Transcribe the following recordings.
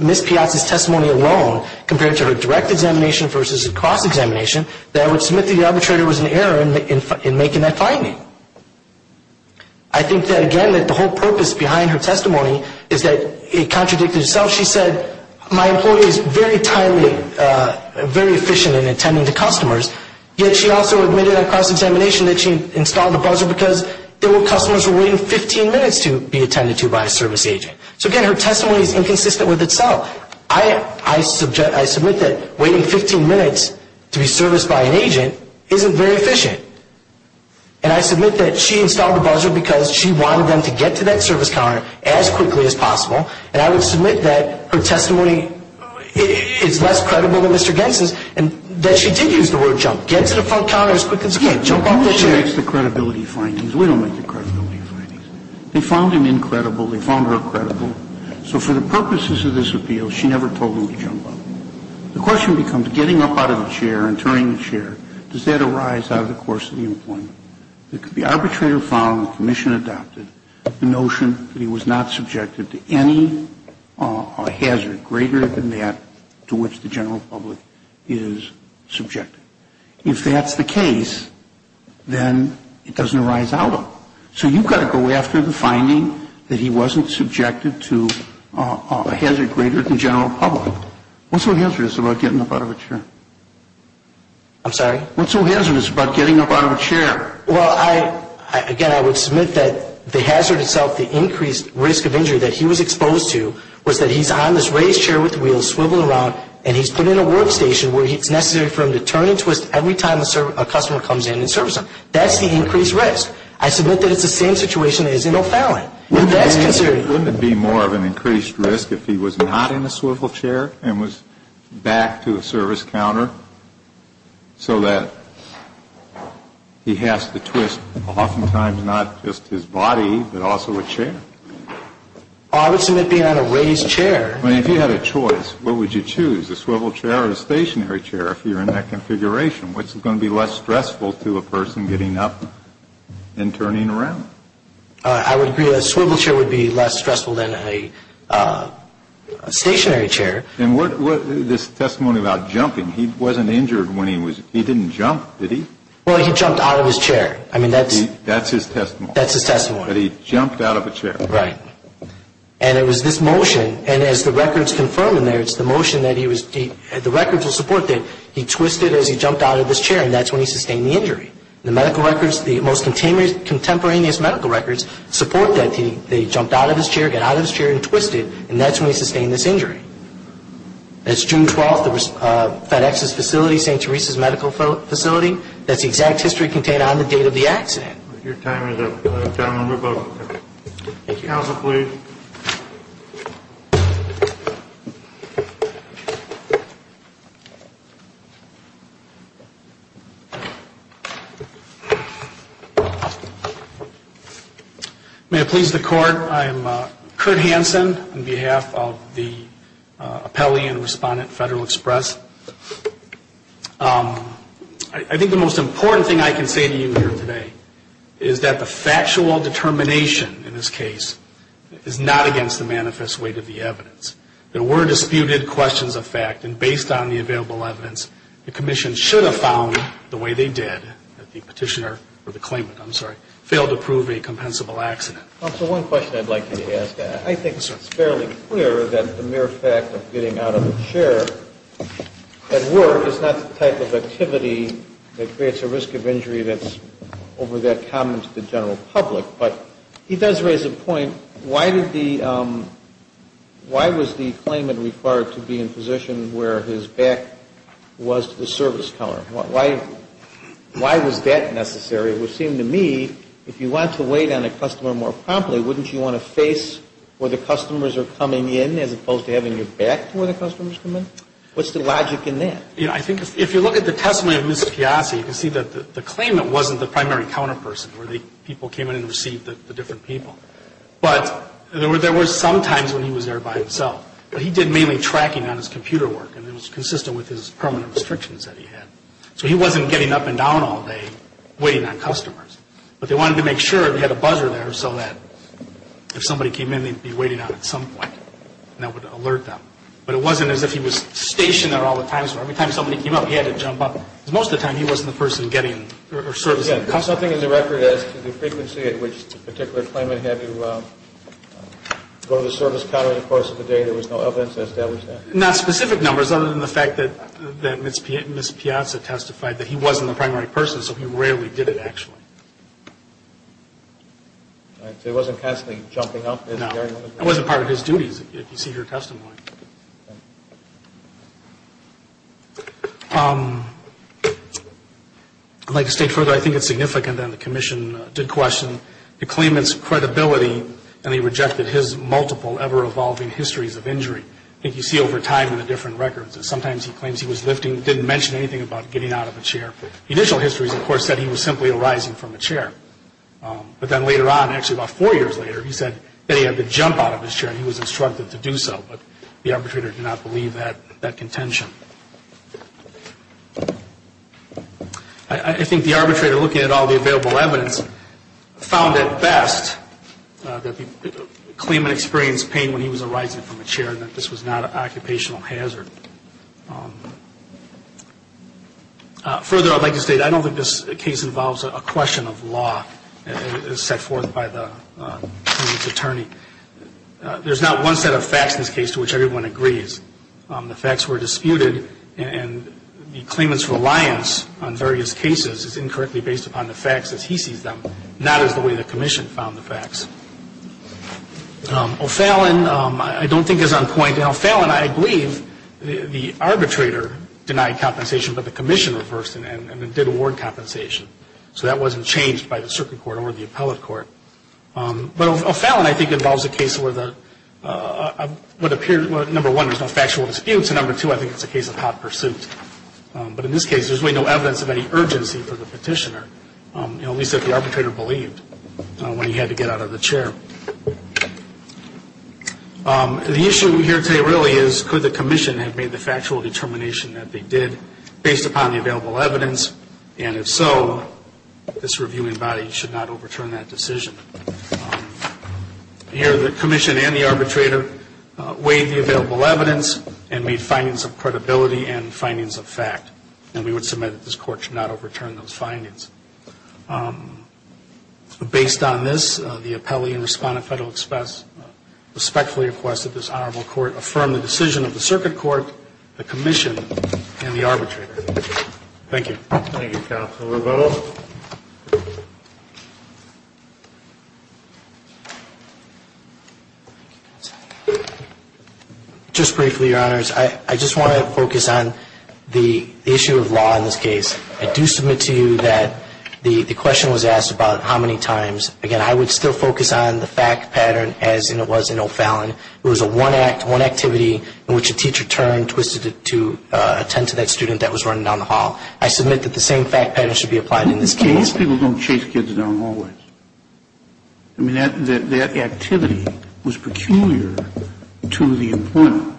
Ms. Piazza's testimony alone, compared to her direct examination versus her cross-examination, that I would submit that the arbitrator was in error in making that finding. I think that, again, that the whole purpose behind her testimony is that it contradicted itself. She said, my employee is very timely, very efficient in attending to customers, yet she also admitted on cross-examination that she installed the buzzer because there were customers who were waiting 15 minutes to be attended to by a service agent. So, again, her testimony is inconsistent with itself. I submit that waiting 15 minutes to be serviced by an agent isn't very efficient. And I submit that she installed the buzzer because she wanted them to get to that service counter as quickly as possible, and I would submit that her testimony is less credible than Mr. Gentzen's, and that she did use the word jump. Get to the front counter as quick as you can. But she makes the credibility findings. We don't make the credibility findings. They found him incredible. They found her credible. So for the purposes of this appeal, she never told him to jump up. The question becomes, getting up out of the chair and turning the chair, does that arise out of the course of the employment? The arbitrator found, the commission adopted, the notion that he was not subjected to any hazard greater than that to which the general public is subjected. If that's the case, then it doesn't arise out of it. So you've got to go after the finding that he wasn't subjected to a hazard greater than general public. What's so hazardous about getting up out of a chair? I'm sorry? What's so hazardous about getting up out of a chair? Well, again, I would submit that the hazard itself, the increased risk of injury that he was exposed to, was that he's on this raised chair with the wheels swiveled around, and he's put in a workstation where it's necessary for him to turn and twist every time a customer comes in and serves them. That's the increased risk. I submit that it's the same situation as in O'Fallon. Wouldn't it be more of an increased risk if he was not in a swivel chair and was back to a service counter so that he has to twist oftentimes not just his body, but also a chair? I would submit being on a raised chair. I mean, if you had a choice, what would you choose? A swivel chair or a stationary chair if you're in that configuration? What's going to be less stressful to a person getting up and turning around? I would agree that a swivel chair would be less stressful than a stationary chair. And this testimony about jumping, he wasn't injured when he was – he didn't jump, did he? Well, he jumped out of his chair. I mean, that's – That's his testimony. That's his testimony. That he jumped out of a chair. Right. And it was this motion, and as the records confirm in there, it's the motion that he was – the records will support that he twisted as he jumped out of his chair, and that's when he sustained the injury. The medical records, the most contemporaneous medical records, support that he jumped out of his chair, got out of his chair and twisted, and that's when he sustained this injury. That's June 12th at FedEx's facility, St. Teresa's Medical Facility. That's the exact history contained on the date of the accident. Your time is up. Thank you. Counsel, please. May it please the Court, I am Kurt Hansen on behalf of the appellee and respondent at Federal Express. I think the most important thing I can say to you here today is that the factual determination in this case is not against the manifest weight of the evidence. There were disputed questions of fact, and based on the available evidence, the Commission should have found the way they did, that the petitioner, or the claimant, I'm sorry, failed to prove a compensable accident. Counsel, one question I'd like you to ask. I think it's fairly clear that the mere fact of getting out of a chair at work is not the type of activity that creates a risk of injury that's over that common to the general public. But he does raise a point. Why did the, why was the claimant required to be in a position where his back was to the service counter? Why was that necessary? It would seem to me, if you want to wait on a customer more promptly, wouldn't you want to face where the customers are coming in, as opposed to having your back to where the customers come in? What's the logic in that? You know, I think if you look at the testimony of Mr. Chiasi, you can see that the claimant wasn't the primary counter person, where the people came in and received the different people. But there were some times when he was there by himself. But he did mainly tracking on his computer work, and it was consistent with his permanent restrictions that he had. So he wasn't getting up and down all day waiting on customers. But they wanted to make sure they had a buzzer there so that if somebody came in, they'd be waiting on it at some point, and that would alert them. But it wasn't as if he was stationed there all the time, so every time somebody came up, he had to jump up. Because most of the time, he wasn't the person getting or servicing the customer. Again, something in the record as to the frequency at which the particular claimant had to go to the service counter in the course of the day, there was no evidence to establish that. Not specific numbers, other than the fact that Ms. Piazza testified that he wasn't the primary person, so he rarely did it, actually. So he wasn't constantly jumping up? No. It wasn't part of his duties, if you see her testimony. I'd like to state further, I think it's significant that the commission did question the claimant's credibility, and they rejected his multiple, ever-evolving histories of injury. I think you see over time in the different records that sometimes he claims he was lifting, didn't mention anything about getting out of a chair. Initial histories, of course, said he was simply arising from a chair. But then later on, actually about four years later, he said that he had to jump out of his chair, and he was instructed to do so, but the arbitrator did not believe that contention. I think the arbitrator, looking at all the available evidence, found it best that the claimant experienced pain when he was arising from a chair, and that this was not an occupational hazard. Further, I'd like to state, I don't think this case involves a question of law, as set forth by the claimant's attorney. There's not one set of facts in this case to which everyone agrees. The facts were disputed, and the claimant's reliance on various cases is incorrectly based upon the facts as he sees them, not as the way the commission found the facts. O'Fallon, I don't think is on point. Now, O'Fallon, I believe the arbitrator denied compensation, but the commission reversed it and did award compensation. So that wasn't changed by the circuit court or the appellate court. But O'Fallon, I think, involves a case where number one, there's no factual disputes, and number two, I think it's a case of hot pursuit. But in this case, there's really no evidence of any urgency for the petitioner, at least that the arbitrator believed when he had to get out of the chair. The issue here today really is could the commission have made the factual determination that they did, based upon the available evidence, and if so, this reviewing body should not overturn that decision. Here, the commission and the arbitrator weighed the available evidence and made findings of credibility and findings of fact, and we would submit that this court should not overturn those findings. Based on this, the appellee and respondent federal express respectfully request that this honorable court affirm the decision of the circuit court, the commission, and the arbitrator. Thank you. Thank you, Counselor Boehme. Just briefly, Your Honors, I just want to focus on the issue of law in this case. I do submit to you that the question was asked about how many times. Again, I would still focus on the fact pattern as it was in O'Fallon. It was a one act, one activity in which a teacher turned, twisted to attend to that student that was running down the hall. In this case, people don't chase kids down hallways. I mean, that activity was peculiar to the appointment.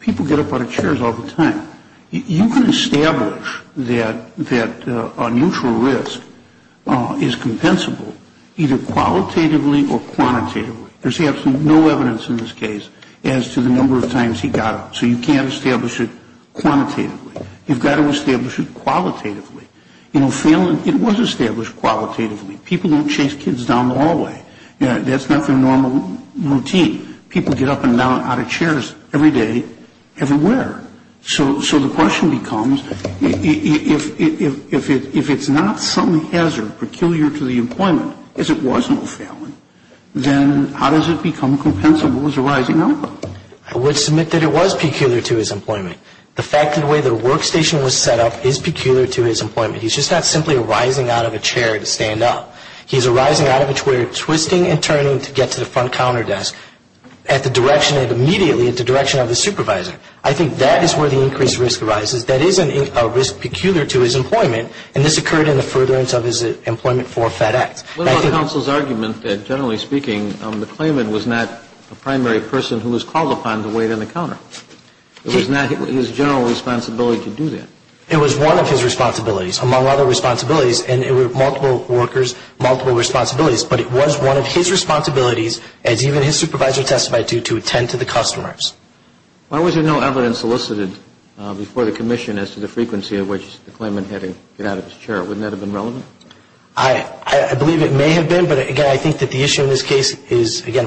People get up out of chairs all the time. You can establish that a neutral risk is compensable either qualitatively or quantitatively. There's absolutely no evidence in this case as to the number of times he got up, so you can't establish it quantitatively. You've got to establish it qualitatively. In O'Fallon, it was established qualitatively. People don't chase kids down the hallway. That's not their normal routine. People get up and down out of chairs every day everywhere. So the question becomes, if it's not some hazard peculiar to the appointment, as it was in O'Fallon, then how does it become compensable as a rising outcome? I would submit that it was peculiar to his appointment. The fact that the way the workstation was set up is peculiar to his appointment. He's just not simply arising out of a chair to stand up. He's arising out of a chair, twisting and turning to get to the front counter desk at the direction and immediately at the direction of the supervisor. I think that is where the increased risk arises. That is a risk peculiar to his employment, and this occurred in the furtherance of his employment for FedEx. What about the counsel's argument that, generally speaking, the claimant was not a primary person who was called upon to wait on the counter? It was not his general responsibility to do that. It was one of his responsibilities, among other responsibilities, and there were multiple workers, multiple responsibilities. But it was one of his responsibilities, as even his supervisor testified to, to attend to the customers. Why was there no evidence solicited before the commission as to the frequency at which the claimant had to get out of his chair? Wouldn't that have been relevant? I believe it may have been, but, again, I think that the issue in this case is, again,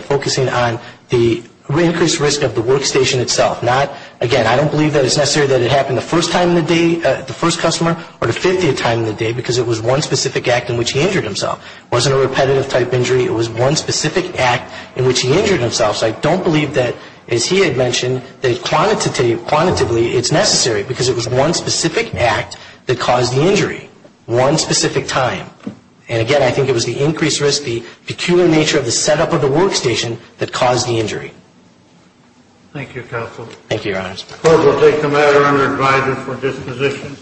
Again, I don't believe that it's necessary that it happened the first time in the day, the first customer, or the 50th time in the day, because it was one specific act in which he injured himself. It wasn't a repetitive type injury. It was one specific act in which he injured himself. So I don't believe that, as he had mentioned, that quantitatively it's necessary, because it was one specific act that caused the injury, one specific time. And, again, I think it was the increased risk, the peculiar nature of the setup of the workstation that caused the injury. Thank you, counsel. Thank you, Your Honor. The court will take the matter under advisory for disposition.